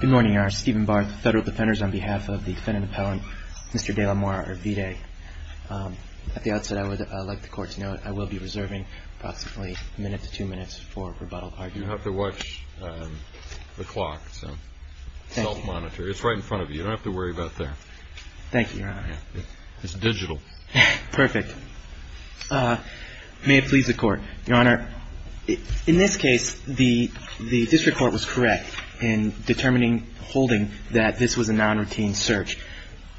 Good morning, Your Honor. Stephen Barth, Federal Defenders, on behalf of the defendant appellant, Mr. De La Mora-Arvide. At the outset, I would like the Court to note I will be reserving approximately a minute to two minutes for rebuttal. You have to watch the clock, so self-monitor. It's right in front of you. You don't have to worry about that. Thank you, Your Honor. It's digital. Perfect. May it please the Court. Your Honor, in this case, the district court was correct in determining, holding that this was a non-routine search.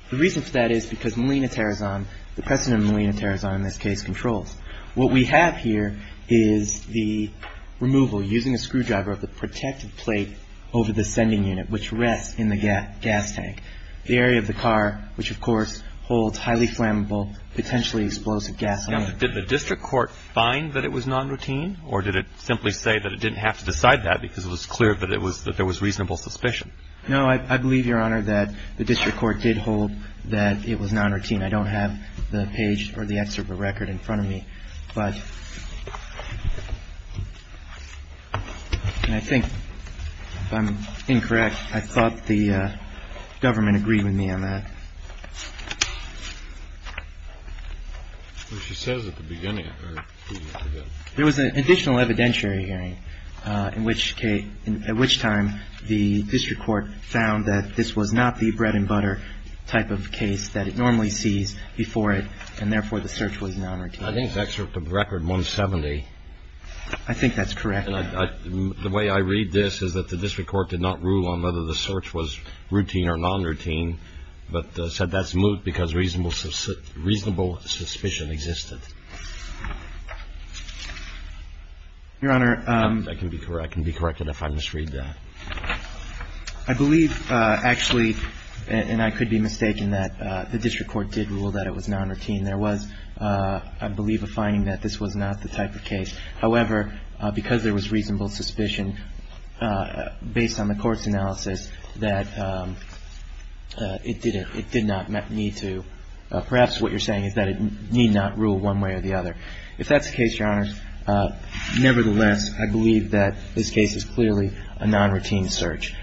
The reason for that is because Melina Terrazon, the president of Melina Terrazon, in this case, controls. What we have here is the removal, using a screwdriver, of the protective plate over the sending unit, which rests in the gas tank. The area of the car, which, of course, holds highly flammable, potentially explosive gasoline. Now, did the district court find that it was non-routine? Or did it simply say that it didn't have to decide that because it was clear that there was reasonable suspicion? No, I believe, Your Honor, that the district court did hold that it was non-routine. I don't have the page or the excerpt of the record in front of me. But I think I'm incorrect. I thought the government agreed with me on that. She says at the beginning there was an additional evidentiary hearing in which case, at which time the district court found that this was not the bread and butter type of case that it normally sees before it. And therefore, the search was non-routine. I think the excerpt of the record, 170. I think that's correct. The way I read this is that the district court did not rule on whether the search was routine or non-routine, but said that's moot because reasonable suspicion existed. Your Honor. I can be corrected if I misread that. I believe, actually, and I could be mistaken, that the district court did rule that it was non-routine. There was, I believe, a finding that this was not the type of case. However, because there was reasonable suspicion based on the Court's analysis that it did not need to, perhaps what you're saying is that it need not rule one way or the other. If that's the case, Your Honor, nevertheless, I believe that this case is clearly a non-routine search.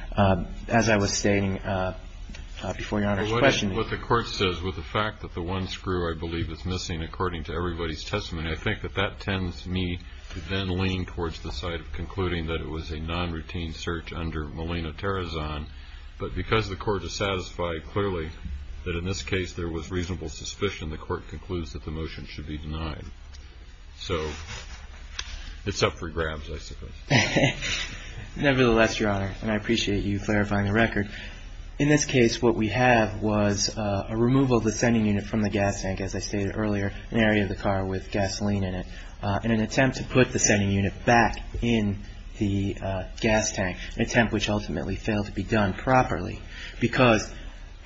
As I was stating before Your Honor's question. What the Court says with the fact that the one screw, I believe, is missing according to everybody's testimony, I think that that tends me to then lean towards the side of concluding that it was a non-routine search under Molina-Terezan. But because the Court has satisfied clearly that in this case there was reasonable suspicion, the Court concludes that the motion should be denied. So it's up for grabs, I suppose. Nevertheless, Your Honor, and I appreciate you clarifying the record. In this case, what we have was a removal of the sending unit from the gas tank, as I stated earlier, an area of the car with gasoline in it, in an attempt to put the sending unit back in the gas tank, an attempt which ultimately failed to be done properly because,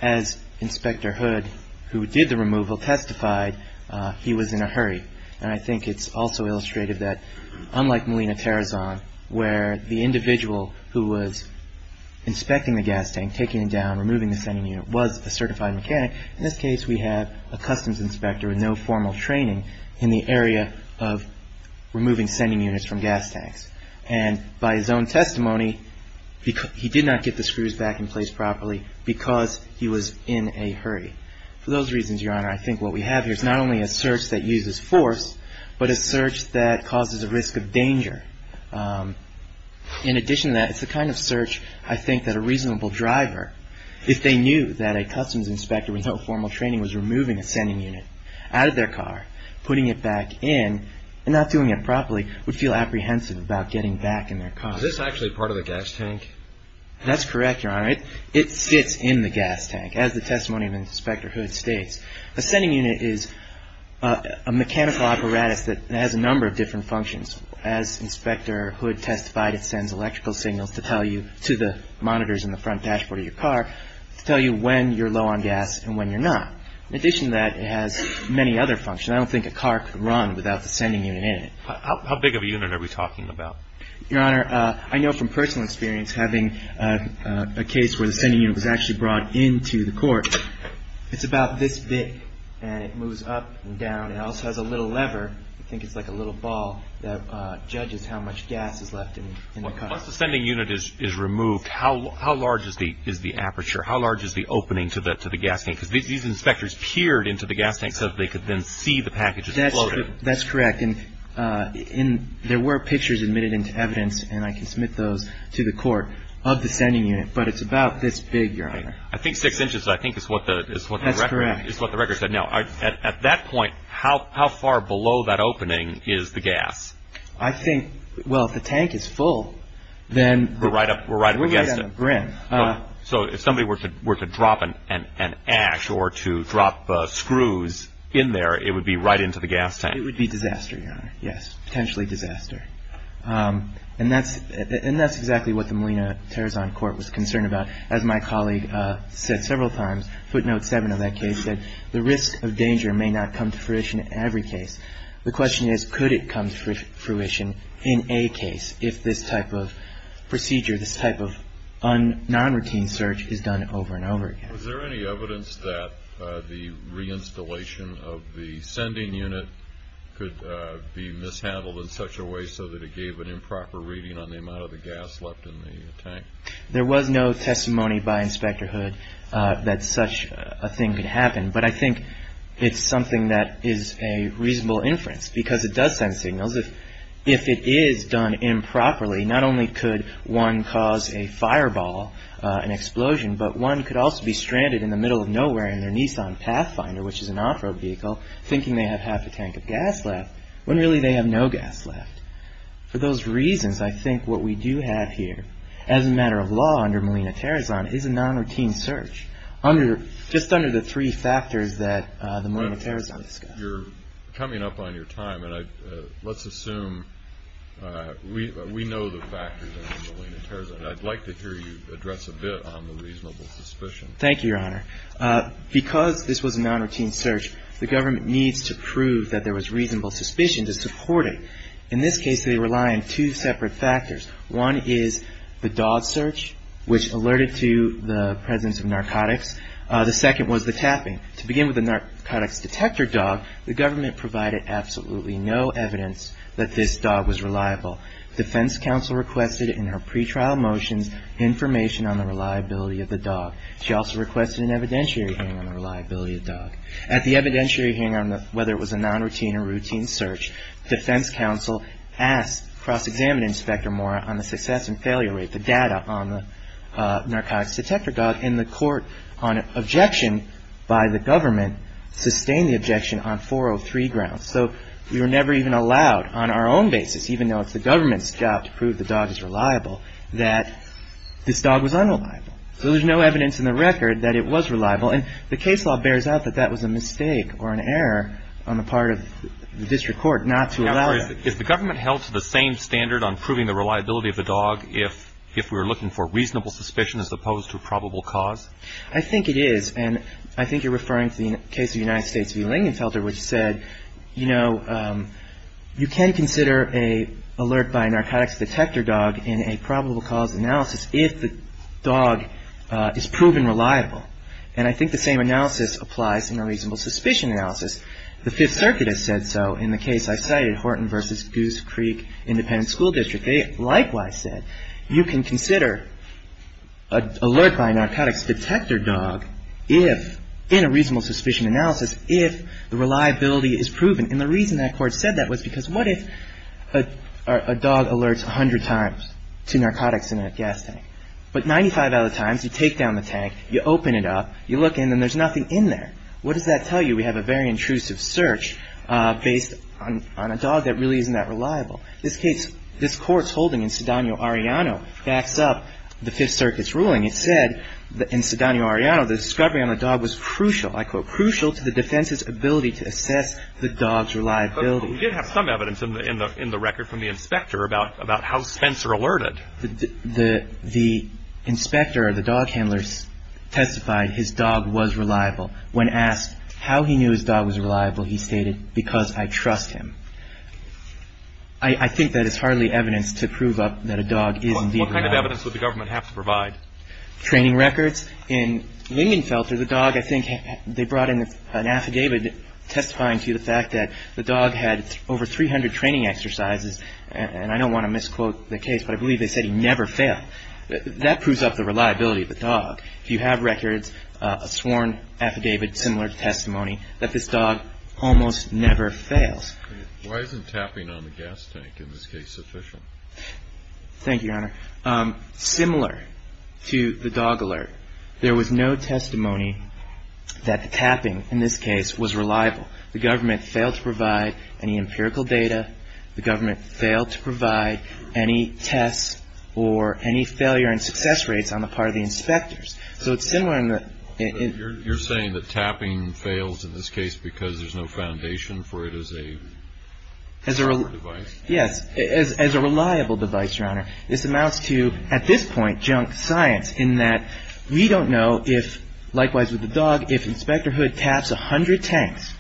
as Inspector Hood, who did the removal, testified, he was in a hurry. And I think it's also illustrated that, unlike Molina-Terezan, where the individual who was inspecting the gas tank, taking it down, removing the sending unit, was a certified mechanic, in this case we have a customs inspector with no formal training in the area of removing sending units from gas tanks. And by his own testimony, he did not get the screws back in place properly because he was in a hurry. For those reasons, Your Honor, I think what we have here is not only a search that uses force, but a search that causes a risk of danger. In addition to that, it's the kind of search, I think, that a reasonable driver, if they knew that a customs inspector without formal training was removing a sending unit out of their car, putting it back in and not doing it properly, would feel apprehensive about getting back in their car. Is this actually part of the gas tank? That's correct, Your Honor. It sits in the gas tank, as the testimony of Inspector Hood states. A sending unit is a mechanical apparatus that has a number of different functions. As Inspector Hood testified, it sends electrical signals to tell you, to the monitors in the front dashboard of your car, to tell you when you're low on gas and when you're not. In addition to that, it has many other functions. I don't think a car could run without the sending unit in it. How big of a unit are we talking about? Your Honor, I know from personal experience, having a case where the sending unit was actually brought into the court, it's about this big, and it moves up and down. It also has a little lever, I think it's like a little ball, that judges how much gas is left in the car. Once the sending unit is removed, how large is the aperture? How large is the opening to the gas tank? Because these inspectors peered into the gas tank so that they could then see the packages floating. That's correct. There were pictures admitted into evidence, and I can submit those to the court, of the sending unit, but it's about this big, Your Honor. I think six inches, I think, is what the record said. That's correct. Now, at that point, how far below that opening is the gas? I think, well, if the tank is full, then we're right on the brim. So if somebody were to drop an ash or to drop screws in there, it would be right into the gas tank? It would be disaster, Your Honor, yes, potentially disaster. And that's exactly what the Molina-Terrazon court was concerned about. As my colleague said several times, footnote seven of that case, the risk of danger may not come to fruition in every case. The question is, could it come to fruition in a case if this type of procedure, this type of non-routine search is done over and over again? Was there any evidence that the reinstallation of the sending unit could be mishandled in such a way so that it gave an improper reading on the amount of the gas left in the tank? There was no testimony by Inspector Hood that such a thing could happen, but I think it's something that is a reasonable inference because it does send signals. If it is done improperly, not only could one cause a fireball, an explosion, but one could also be stranded in the middle of nowhere in their Nissan Pathfinder, which is an off-road vehicle, thinking they have half a tank of gas left, when really they have no gas left. For those reasons, I think what we do have here as a matter of law under Molina-Terrazon is a non-routine search just under the three factors that the Molina-Terrazon discussed. You're coming up on your time, and let's assume we know the factors under Molina-Terrazon. I'd like to hear you address a bit on the reasonable suspicion. Thank you, Your Honor. Because this was a non-routine search, the government needs to prove that there was reasonable suspicion to support it. In this case, they rely on two separate factors. One is the dog search, which alerted to the presence of narcotics. The second was the tapping. To begin with the narcotics detector dog, the government provided absolutely no evidence that this dog was reliable. Defense counsel requested in her pretrial motions information on the reliability of the dog. She also requested an evidentiary hearing on the reliability of the dog. At the evidentiary hearing on whether it was a non-routine or routine search, defense counsel asked cross-examining Inspector Mora on the success and failure rate, the data on the narcotics detector dog, and the court, on objection by the government, sustained the objection on 403 grounds. So we were never even allowed on our own basis, even though it's the government's job to prove the dog is reliable, that this dog was unreliable. So there's no evidence in the record that it was reliable. And the case law bears out that that was a mistake or an error on the part of the district court not to allow it. If the government held to the same standard on proving the reliability of the dog if we were looking for reasonable suspicion as opposed to probable cause? I think it is. And I think you're referring to the case of the United States V. Lingenfelter, which said, you know, you can consider an alert by a narcotics detector dog in a probable cause analysis if the dog is proven reliable. And I think the same analysis applies in a reasonable suspicion analysis. The Fifth Circuit has said so in the case I cited, Horton v. Goose Creek Independent School District. They likewise said you can consider an alert by a narcotics detector dog in a reasonable suspicion analysis if the reliability is proven. And the reason that court said that was because what if a dog alerts 100 times to narcotics in a gas tank? But 95 out of the times, you take down the tank, you open it up, you look in, and there's nothing in there. What does that tell you? We have a very intrusive search based on a dog that really isn't that reliable. This case, this Court's holding in Sedano-Ariano backs up the Fifth Circuit's ruling. It said in Sedano-Ariano the discovery on the dog was crucial, I quote, crucial to the defense's ability to assess the dog's reliability. But we did have some evidence in the record from the inspector about how Spencer alerted. The inspector or the dog handler testified his dog was reliable. When asked how he knew his dog was reliable, he stated, because I trust him. I think that is hardly evidence to prove up that a dog is indeed reliable. What kind of evidence would the government have to provide? Training records. In Lindenfelter, the dog, I think they brought in an affidavit testifying to the fact that the dog had over 300 training exercises. And I don't want to misquote the case, but I believe they said he never failed. That proves up the reliability of the dog. If you have records, a sworn affidavit similar to testimony, that this dog almost never fails. Why isn't tapping on the gas tank in this case sufficient? Thank you, Your Honor. Similar to the dog alert, there was no testimony that the tapping in this case was reliable. The government failed to provide any empirical data. The government failed to provide any tests or any failure and success rates on the part of the inspectors. So it's similar in the – You're saying that tapping fails in this case because there's no foundation for it as a – As a – As a device. Yes. As a reliable device, Your Honor. This amounts to, at this point, junk science in that we don't know if, likewise with the dog, if Inspector Hood taps 100 tanks,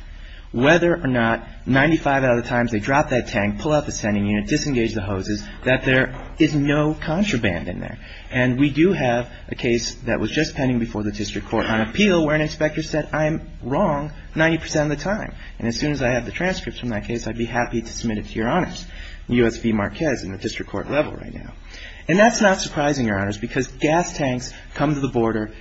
whether or not 95 out of the times they drop that tank, pull out the standing unit, disengage the hoses, that there is no contraband in there. And we do have a case that was just pending before the district court on appeal where an inspector said, I'm wrong 90 percent of the time. And as soon as I have the transcripts from that case, I'd be happy to submit it to Your Honors. U.S. v. Marquez in the district court level right now. And that's not surprising, Your Honors, because gas tanks come to the border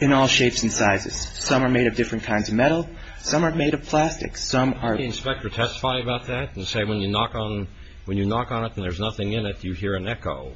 in all shapes and sizes. Some are made of different kinds of metal. Some are made of plastic. Some are – Can the inspector testify about that and say when you knock on – when you knock on it and there's nothing in it, you hear an echo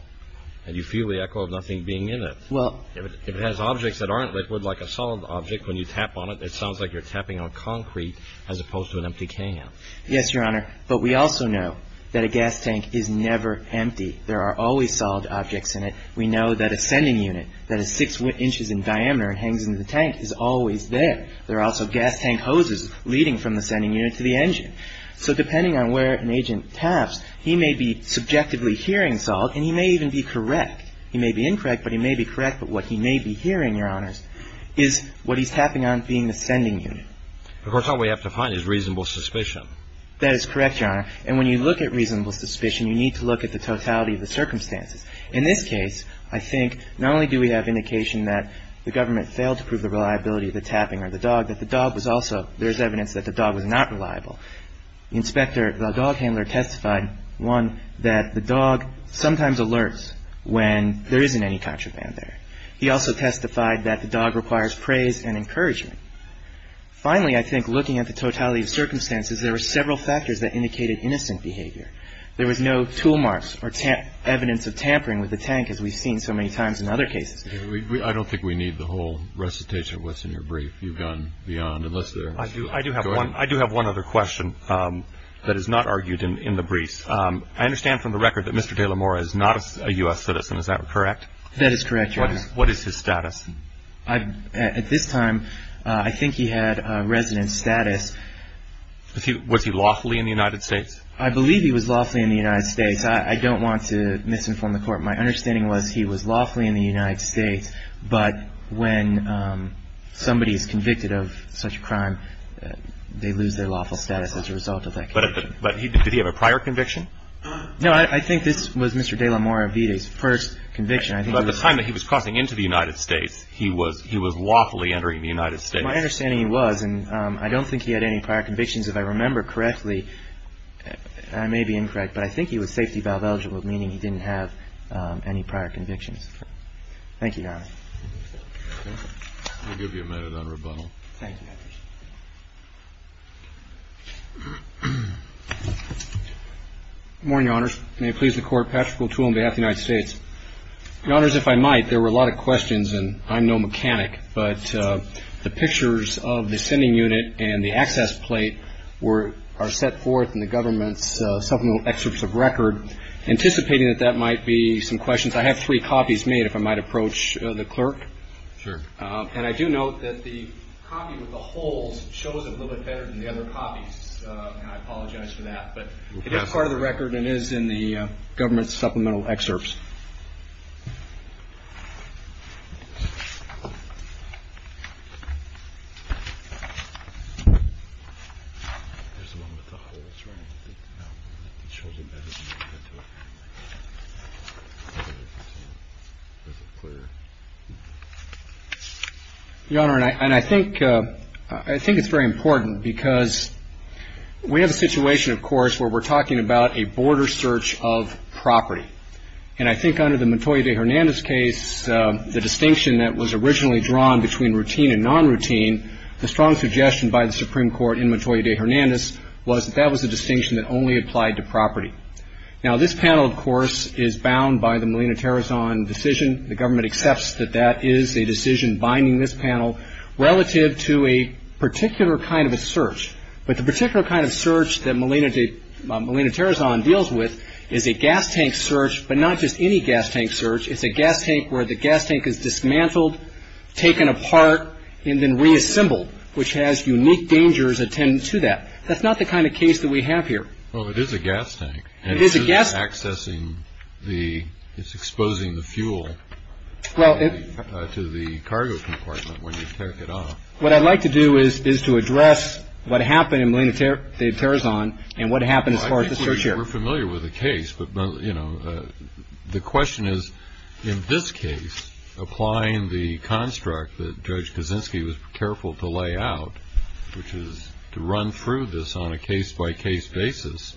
and you feel the echo of nothing being in it? Well – If it has objects that aren't liquid, like a solid object, when you tap on it, it sounds like you're tapping on concrete as opposed to an empty can. Yes, Your Honor. But we also know that a gas tank is never empty. There are always solid objects in it. We know that a sending unit that is six inches in diameter and hangs in the tank is always there. There are also gas tank hoses leading from the sending unit to the engine. So depending on where an agent taps, he may be subjectively hearing solid and he may even be correct. He may be incorrect, but he may be correct. But what he may be hearing, Your Honors, is what he's tapping on being the sending unit. Of course, all we have to find is reasonable suspicion. That is correct, Your Honor. And when you look at reasonable suspicion, you need to look at the totality of the circumstances. In this case, I think not only do we have indication that the government failed to prove the reliability of the tapping on the dog, that the dog was also – there's evidence that the dog was not reliable. The inspector, the dog handler testified, one, that the dog sometimes alerts when there isn't any contraband there. He also testified that the dog requires praise and encouragement. Finally, I think looking at the totality of circumstances, there were several factors that indicated innocent behavior. There was no tool marks or evidence of tampering with the tank as we've seen so many times in other cases. I don't think we need the whole recitation of what's in your brief. You've gone beyond. I do have one other question that is not argued in the briefs. I understand from the record that Mr. De La Mora is not a U.S. citizen. Is that correct? That is correct, Your Honor. What is his status? At this time, I think he had a resident status. Was he lawfully in the United States? I believe he was lawfully in the United States. I don't want to misinform the Court. My understanding was he was lawfully in the United States, but when somebody is convicted of such a crime, they lose their lawful status as a result of that conviction. But did he have a prior conviction? No, I think this was Mr. De La Mora Vita's first conviction. At the time that he was crossing into the United States, he was lawfully entering the United States. My understanding was, and I don't think he had any prior convictions if I remember correctly, I may be incorrect, but I think he was safety valve eligible, meaning he didn't have any prior convictions. Thank you, Your Honor. I'll give you a minute on rebuttal. Thank you. Good morning, Your Honors. May it please the Court. Patrick O'Toole on behalf of the United States. Your Honors, if I might, there were a lot of questions, and I'm no mechanic, but the pictures of the sending unit and the access plate are set forth in the government's supplemental excerpts of record, anticipating that that might be some questions. I have three copies made, if I might approach the clerk. Sure. And I do note that the copy with the holes shows it a little bit better than the other copies, and I apologize for that. But it is part of the record and is in the government's supplemental excerpts. Your Honor, and I think it's very important because we have a situation, of course, where we're talking about a border search of property. And I think under the Montoya de Hernandez case, the distinction that was originally drawn between routine and non-routine, the strong suggestion by the Supreme Court in Montoya de Hernandez was that that was a distinction that only applied to property. Now, this panel, of course, is bound by the Molina-Terezon decision. The government accepts that that is a decision binding this panel relative to a particular kind of a search. But the particular kind of search that Molina-Terezon deals with is a gas tank search, but not just any gas tank search. It's a gas tank where the gas tank is dismantled, taken apart, and then reassembled, which has unique dangers attendant to that. That's not the kind of case that we have here. Well, it is a gas tank. It is a gas tank. And it isn't accessing the – it's exposing the fuel to the cargo compartment when you take it off. What I'd like to do is to address what happened in Molina-Terezon and what happened as far as the search here. I think we're familiar with the case. But, you know, the question is, in this case, applying the construct that Judge Kaczynski was careful to lay out, which is to run through this on a case-by-case basis,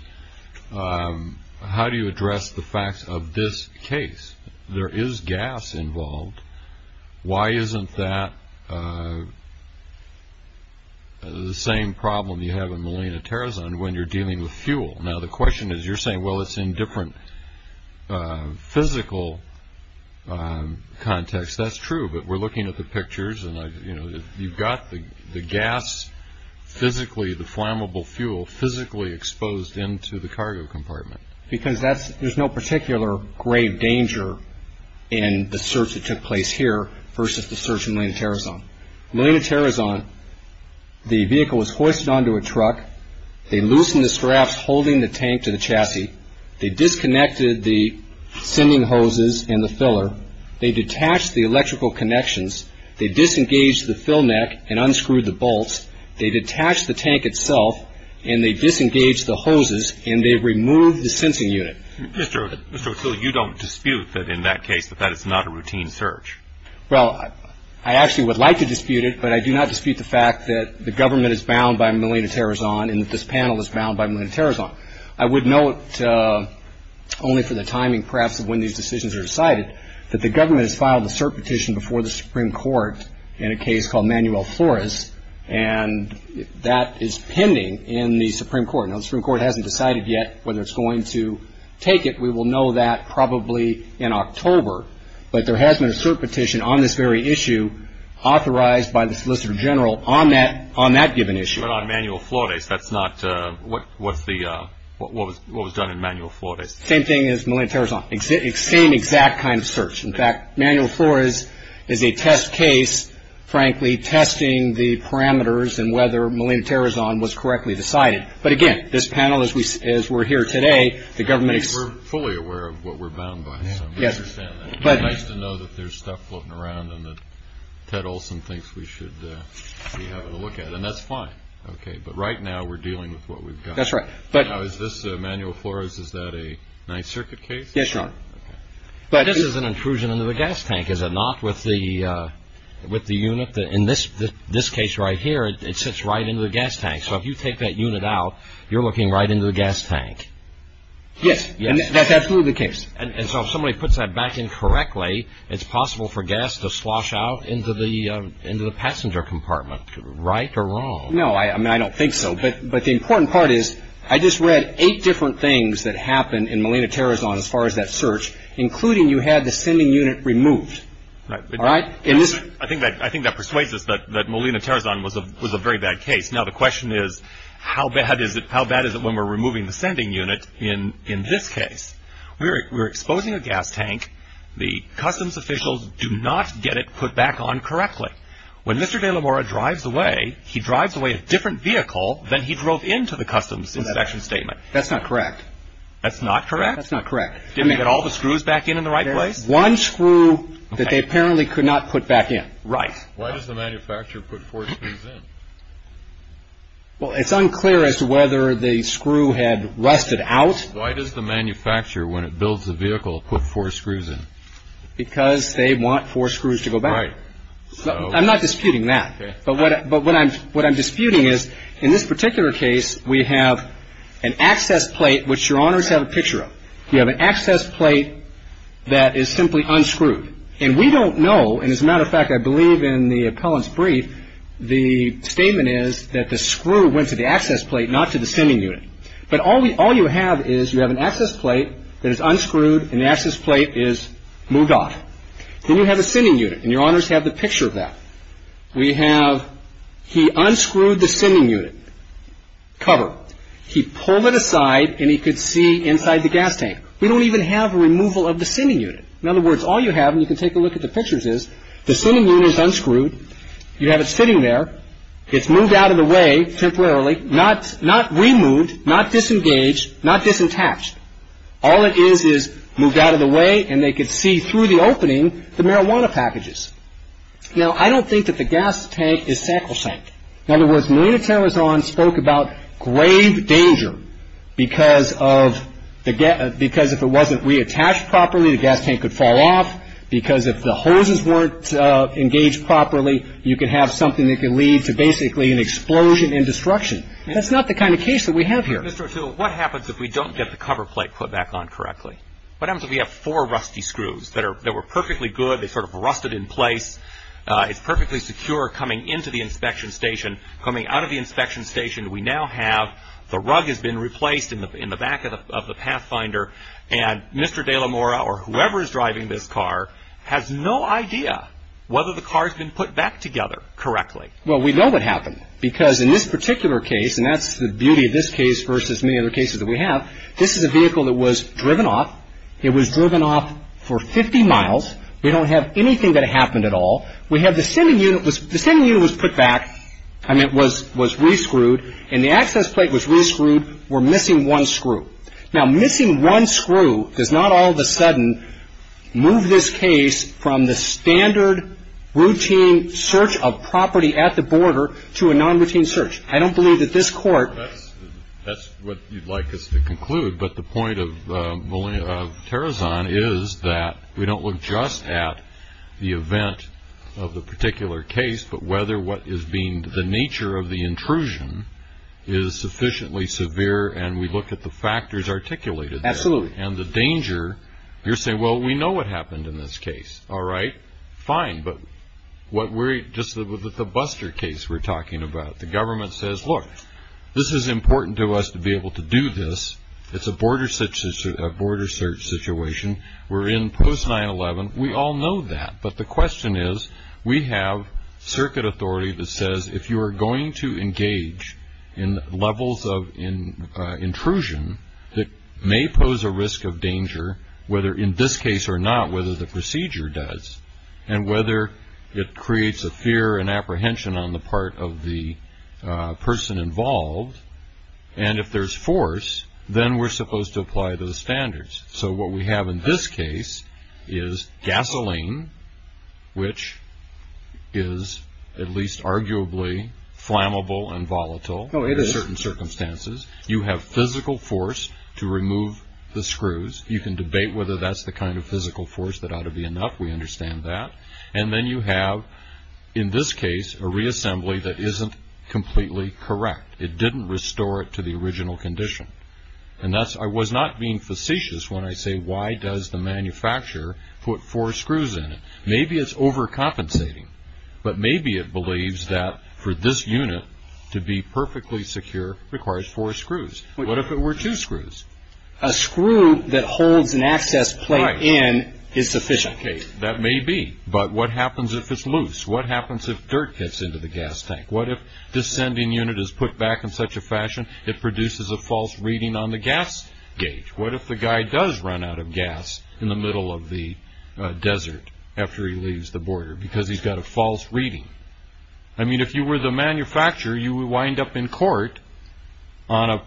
how do you address the facts of this case? There is gas involved. Why isn't that the same problem you have in Molina-Terezon when you're dealing with fuel? Now, the question is, you're saying, well, it's in different physical context. That's true. But we're looking at the pictures, and, you know, you've got the gas physically, the flammable fuel, physically exposed into the cargo compartment. Because there's no particular grave danger in the search that took place here versus the search in Molina-Terezon. Molina-Terezon, the vehicle was hoisted onto a truck. They loosened the straps holding the tank to the chassis. They disconnected the sending hoses and the filler. They detached the electrical connections. They disengaged the fill neck and unscrewed the bolts. They detached the tank itself, and they disengaged the hoses, and they removed the sensing unit. Mr. O'Toole, you don't dispute that in that case that that is not a routine search? Well, I actually would like to dispute it, but I do not dispute the fact that the government is bound by Molina-Terezon and that this panel is bound by Molina-Terezon. I would note, only for the timing perhaps of when these decisions are decided, that the government has filed a cert petition before the Supreme Court in a case called Manuel Flores, and that is pending in the Supreme Court. Now, the Supreme Court hasn't decided yet whether it's going to take it. We will know that probably in October, but there has been a cert petition on this very issue authorized by the Solicitor General on that given issue. But on Manuel Flores, that's not what was done in Manuel Flores. Same thing as Molina-Terezon, same exact kind of search. In fact, Manuel Flores is a test case, frankly, testing the parameters and whether Molina-Terezon was correctly decided. But, again, this panel, as we're here today, the government is- We're fully aware of what we're bound by, so we understand that. It's nice to know that there's stuff floating around and that Ted Olson thinks we should be having a look at it. And that's fine. Okay, but right now we're dealing with what we've got. That's right. Now, is this, Manuel Flores, is that a Ninth Circuit case? Yes, Your Honor. This is an intrusion into the gas tank, is it not, with the unit? In this case right here, it sits right into the gas tank. So if you take that unit out, you're looking right into the gas tank. Yes, that's absolutely the case. And so if somebody puts that back in correctly, it's possible for gas to slosh out into the passenger compartment. Right or wrong? No, I don't think so. But the important part is I just read eight different things that happened in Molina-Terezon as far as that search, including you had the sending unit removed. All right? I think that persuades us that Molina-Terezon was a very bad case. Now, the question is how bad is it when we're removing the sending unit in this case? We're exposing a gas tank. The customs officials do not get it put back on correctly. When Mr. de la Mora drives away, he drives away a different vehicle than he drove into the customs inspection statement. That's not correct. That's not correct? That's not correct. Did they get all the screws back in in the right place? One screw that they apparently could not put back in. Right. Why does the manufacturer put four screws in? Well, it's unclear as to whether the screw had rusted out. Why does the manufacturer, when it builds a vehicle, put four screws in? Because they want four screws to go back in. Right. I'm not disputing that. But what I'm disputing is in this particular case, we have an access plate which Your Honors have a picture of. You have an access plate that is simply unscrewed. And we don't know, and as a matter of fact, I believe in the appellant's brief, the statement is that the screw went to the access plate, not to the sending unit. But all you have is you have an access plate that is unscrewed, and the access plate is moved off. Then you have the sending unit, and Your Honors have the picture of that. We have he unscrewed the sending unit cover. He pulled it aside, and he could see inside the gas tank. We don't even have a removal of the sending unit. In other words, all you have, and you can take a look at the pictures, is the sending unit is unscrewed. You have it sitting there. It's moved out of the way temporarily, not removed, not disengaged, not disattached. All it is is moved out of the way, and they could see through the opening the marijuana packages. Now, I don't think that the gas tank is sacrosanct. In other words, Molina-Tarrazan spoke about grave danger because if it wasn't reattached properly, the gas tank could fall off, because if the hoses weren't engaged properly, you could have something that could lead to basically an explosion and destruction. That's not the kind of case that we have here. Mr. O'Toole, what happens if we don't get the cover plate put back on correctly? What happens if we have four rusty screws that were perfectly good? They sort of rusted in place. It's perfectly secure coming into the inspection station. Coming out of the inspection station, we now have the rug has been replaced in the back of the Pathfinder, and Mr. De La Mora or whoever is driving this car has no idea whether the car has been put back together correctly. Well, we know what happened because in this particular case, and that's the beauty of this case versus many other cases that we have, this is a vehicle that was driven off. It was driven off for 50 miles. We don't have anything that happened at all. We have the sending unit. The sending unit was put back, and it was re-screwed, and the access plate was re-screwed. We're missing one screw. Now, missing one screw does not all of a sudden move this case from the standard, routine search of property at the border to a non-routine search. That's what you'd like us to conclude, but the point of Tarazan is that we don't look just at the event of the particular case, but whether what is being the nature of the intrusion is sufficiently severe, and we look at the factors articulated there. Absolutely. And the danger, you're saying, well, we know what happened in this case. All right, fine, but just with the Buster case we're talking about, the government says, look, this is important to us to be able to do this. It's a border search situation. We're in post-9-11. We all know that, but the question is we have circuit authority that says if you are going to engage in levels of intrusion that may pose a risk of danger, whether in this case or not, whether the procedure does, and whether it creates a fear and apprehension on the part of the person involved, and if there's force, then we're supposed to apply those standards. So what we have in this case is gasoline, which is at least arguably flammable and volatile under certain circumstances. You have physical force to remove the screws. You can debate whether that's the kind of physical force that ought to be enough. We understand that. And then you have, in this case, a reassembly that isn't completely correct. It didn't restore it to the original condition. And thus I was not being facetious when I say why does the manufacturer put four screws in it? Maybe it's overcompensating, but maybe it believes that for this unit to be perfectly secure requires four screws. What if it were two screws? A screw that holds an access plate in is sufficient. That may be, but what happens if it's loose? What happens if dirt gets into the gas tank? What if this sending unit is put back in such a fashion it produces a false reading on the gas gauge? What if the guy does run out of gas in the middle of the desert after he leaves the border because he's got a false reading? I mean, if you were the manufacturer, you would wind up in court on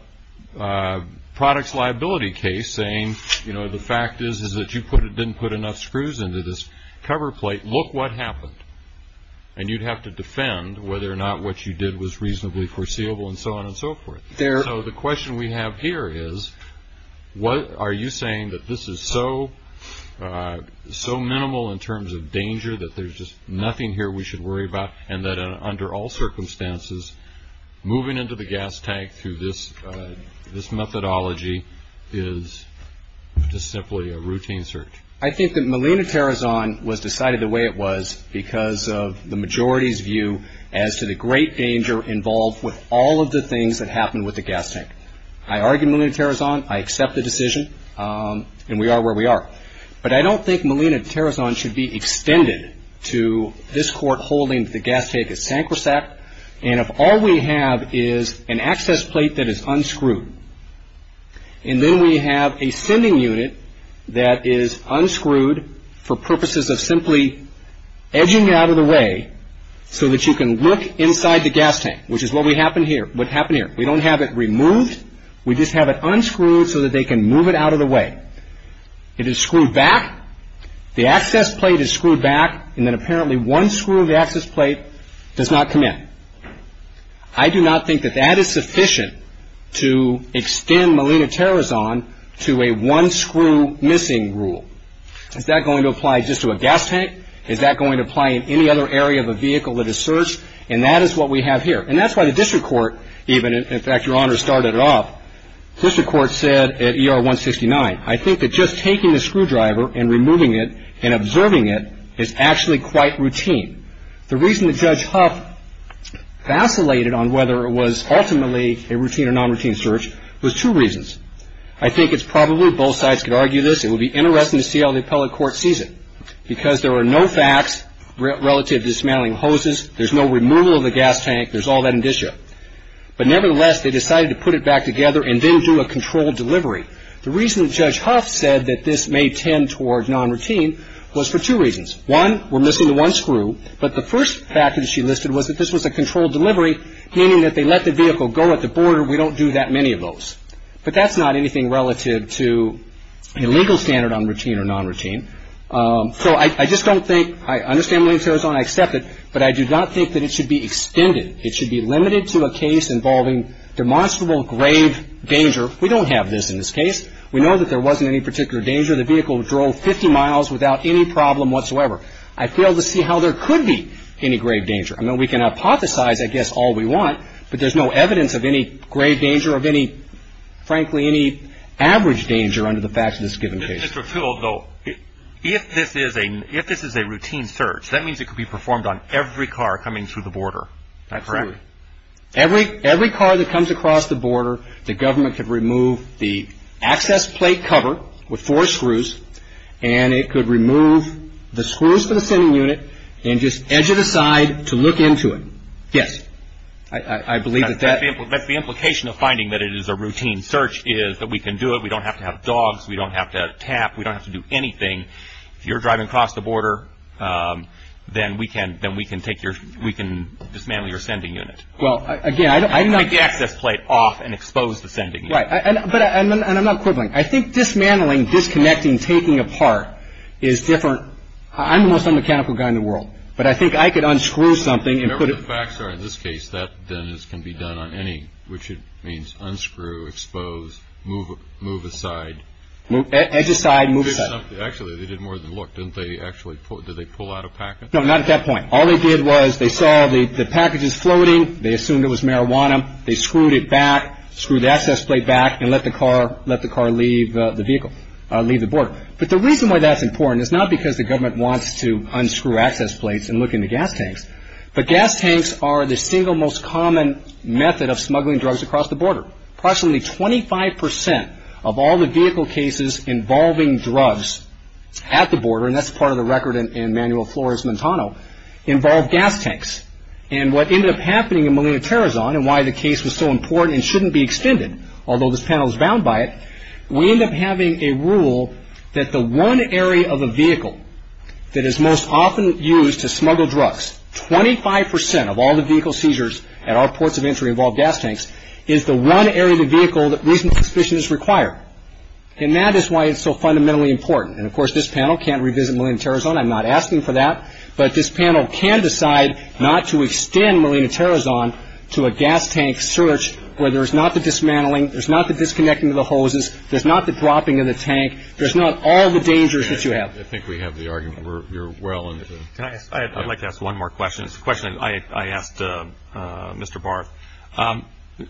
a products liability case saying, you know, the fact is that you didn't put enough screws into this cover plate. Look what happened. And you'd have to defend whether or not what you did was reasonably foreseeable and so on and so forth. So the question we have here is, are you saying that this is so minimal in terms of danger that there's just nothing here we should worry about and that under all circumstances, moving into the gas tank through this methodology is just simply a routine search? I think that Molina-Terrazon was decided the way it was because of the majority's view as to the great danger involved with all of the things that happened with the gas tank. I argue Molina-Terrazon. I accept the decision. And we are where we are. But I don't think Molina-Terrazon should be extended to this court holding the gas tank is sacrosanct and if all we have is an access plate that is unscrewed and then we have a sending unit that is unscrewed for purposes of simply edging it out of the way so that you can look inside the gas tank, which is what happened here. We don't have it removed. We just have it unscrewed so that they can move it out of the way. It is screwed back. The access plate is screwed back. And then apparently one screw of the access plate does not come in. I do not think that that is sufficient to extend Molina-Terrazon to a one screw missing rule. Is that going to apply just to a gas tank? Is that going to apply in any other area of a vehicle that is searched? And that is what we have here. And that's why the district court even, in fact, Your Honor started it off, the district court said at ER 169, I think that just taking the screwdriver and removing it and observing it is actually quite routine. The reason that Judge Huff vacillated on whether it was ultimately a routine or non-routine search was two reasons. I think it's probably both sides could argue this. It would be interesting to see how the appellate court sees it because there were no facts relative to dismantling hoses. There's no removal of the gas tank. There's all that indicia. But nevertheless, they decided to put it back together and then do a controlled delivery. The reason that Judge Huff said that this may tend toward non-routine was for two reasons. One, we're missing the one screw. But the first fact that she listed was that this was a controlled delivery, meaning that they let the vehicle go at the border. We don't do that many of those. But that's not anything relative to a legal standard on routine or non-routine. So I just don't think, I understand Molina-Terrazon, I accept it. But I do not think that it should be extended. It should be limited to a case involving demonstrable grave danger. We don't have this in this case. We know that there wasn't any particular danger. The vehicle drove 50 miles without any problem whatsoever. I fail to see how there could be any grave danger. I mean, we can hypothesize, I guess, all we want. But there's no evidence of any grave danger or of any, frankly, any average danger under the facts of this given case. Mr. Field, though, if this is a routine search, that means it could be performed on every car coming through the border. That's right. Every car that comes across the border, the government could remove the access plate cover with four screws, and it could remove the screws for the sending unit and just edge it aside to look into it. Yes, I believe that that. That's the implication of finding that it is a routine search is that we can do it. We don't have to have dogs. We don't have to tap. We don't have to do anything. If you're driving across the border, then we can dismantle your sending unit. Well, again, I don't know. Take the access plate off and expose the sending unit. And I'm not quibbling. I think dismantling, disconnecting, taking apart is different. I'm the most unmechanical guy in the world, but I think I could unscrew something and put it. Remember, the facts are in this case that this can be done on any, which means unscrew, expose, move aside. Edge aside, move aside. Actually, they did more than look, didn't they? Actually, did they pull out a package? No, not at that point. All they did was they saw the packages floating. They assumed it was marijuana. They screwed it back, screwed the access plate back, and let the car leave the vehicle, leave the border. But the reason why that's important is not because the government wants to unscrew access plates and look in the gas tanks, but gas tanks are the single most common method of smuggling drugs across the border. Approximately 25% of all the vehicle cases involving drugs at the border, and that's part of the record in Manual Flores-Montano, involve gas tanks. And what ended up happening in Molina-Terrazone and why the case was so important and shouldn't be extended, although this panel is bound by it, we end up having a rule that the one area of a vehicle that is most often used to smuggle drugs, 25% of all the vehicle seizures at our ports of entry involve gas tanks, is the one area of the vehicle that reasonable suspicion is required. And that is why it's so fundamentally important. And, of course, this panel can't revisit Molina-Terrazone. I'm not asking for that. But this panel can decide not to extend Molina-Terrazone to a gas tank search where there's not the dismantling, there's not the disconnecting of the hoses, there's not the dropping of the tank, there's not all the dangers that you have. I think we have the argument. We're well into it. I'd like to ask one more question. It's a question I asked Mr. Barth.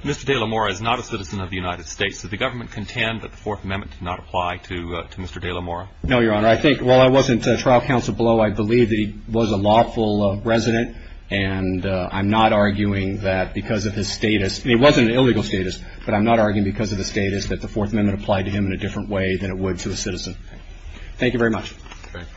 Mr. de la Mora is not a citizen of the United States. Does the government contend that the Fourth Amendment did not apply to Mr. de la Mora? No, Your Honor. While I wasn't trial counsel below, I believe that he was a lawful resident. And I'm not arguing that because of his status, and it wasn't an illegal status, but I'm not arguing because of his status that the Fourth Amendment applied to him in a different way than it would to a citizen. Thank you very much. Thank you.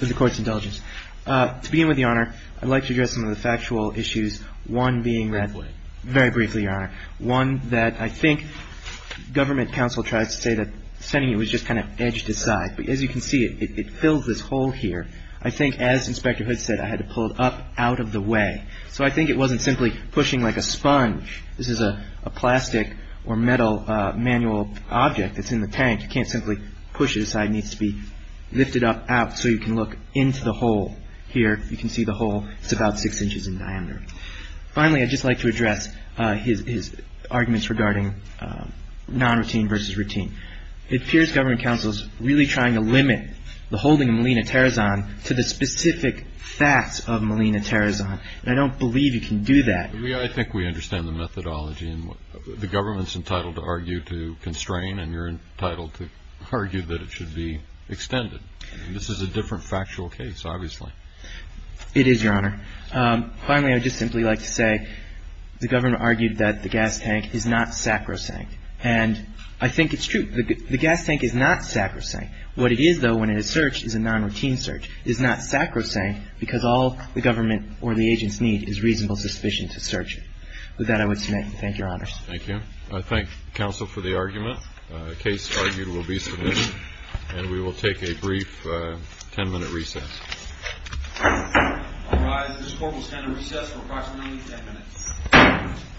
This is the Court's intelligence. To begin with, Your Honor, I'd like to address some of the factual issues, one being read very briefly, Your Honor, one that I think government counsel tried to say that the Senate was just kind of edged aside. As you can see, it fills this hole here. I think, as Inspector Hood said, I had to pull it up out of the way. So I think it wasn't simply pushing like a sponge. This is a plastic or metal manual object that's in the tank. You can't simply push it aside. It needs to be lifted up out so you can look into the hole here. You can see the hole. It's about six inches in diameter. Finally, I'd just like to address his arguments regarding non-routine versus routine. It appears government counsel is really trying to limit the holding of Molina Terrazon to the specific facts of Molina Terrazon. And I don't believe you can do that. I think we understand the methodology. The government's entitled to argue to constrain, and you're entitled to argue that it should be extended. This is a different factual case, obviously. It is, Your Honor. Finally, I'd just simply like to say the government argued that the gas tank is not sacrosanct. And I think it's true. The gas tank is not sacrosanct. What it is, though, when it is searched is a non-routine search. It is not sacrosanct because all the government or the agents need is reasonable suspicion to search it. With that, I would submit and thank Your Honor. Thank you. I thank counsel for the argument. The case argued will be submitted, and we will take a brief 10-minute recess. All rise. This court will stand at recess for approximately 10 minutes.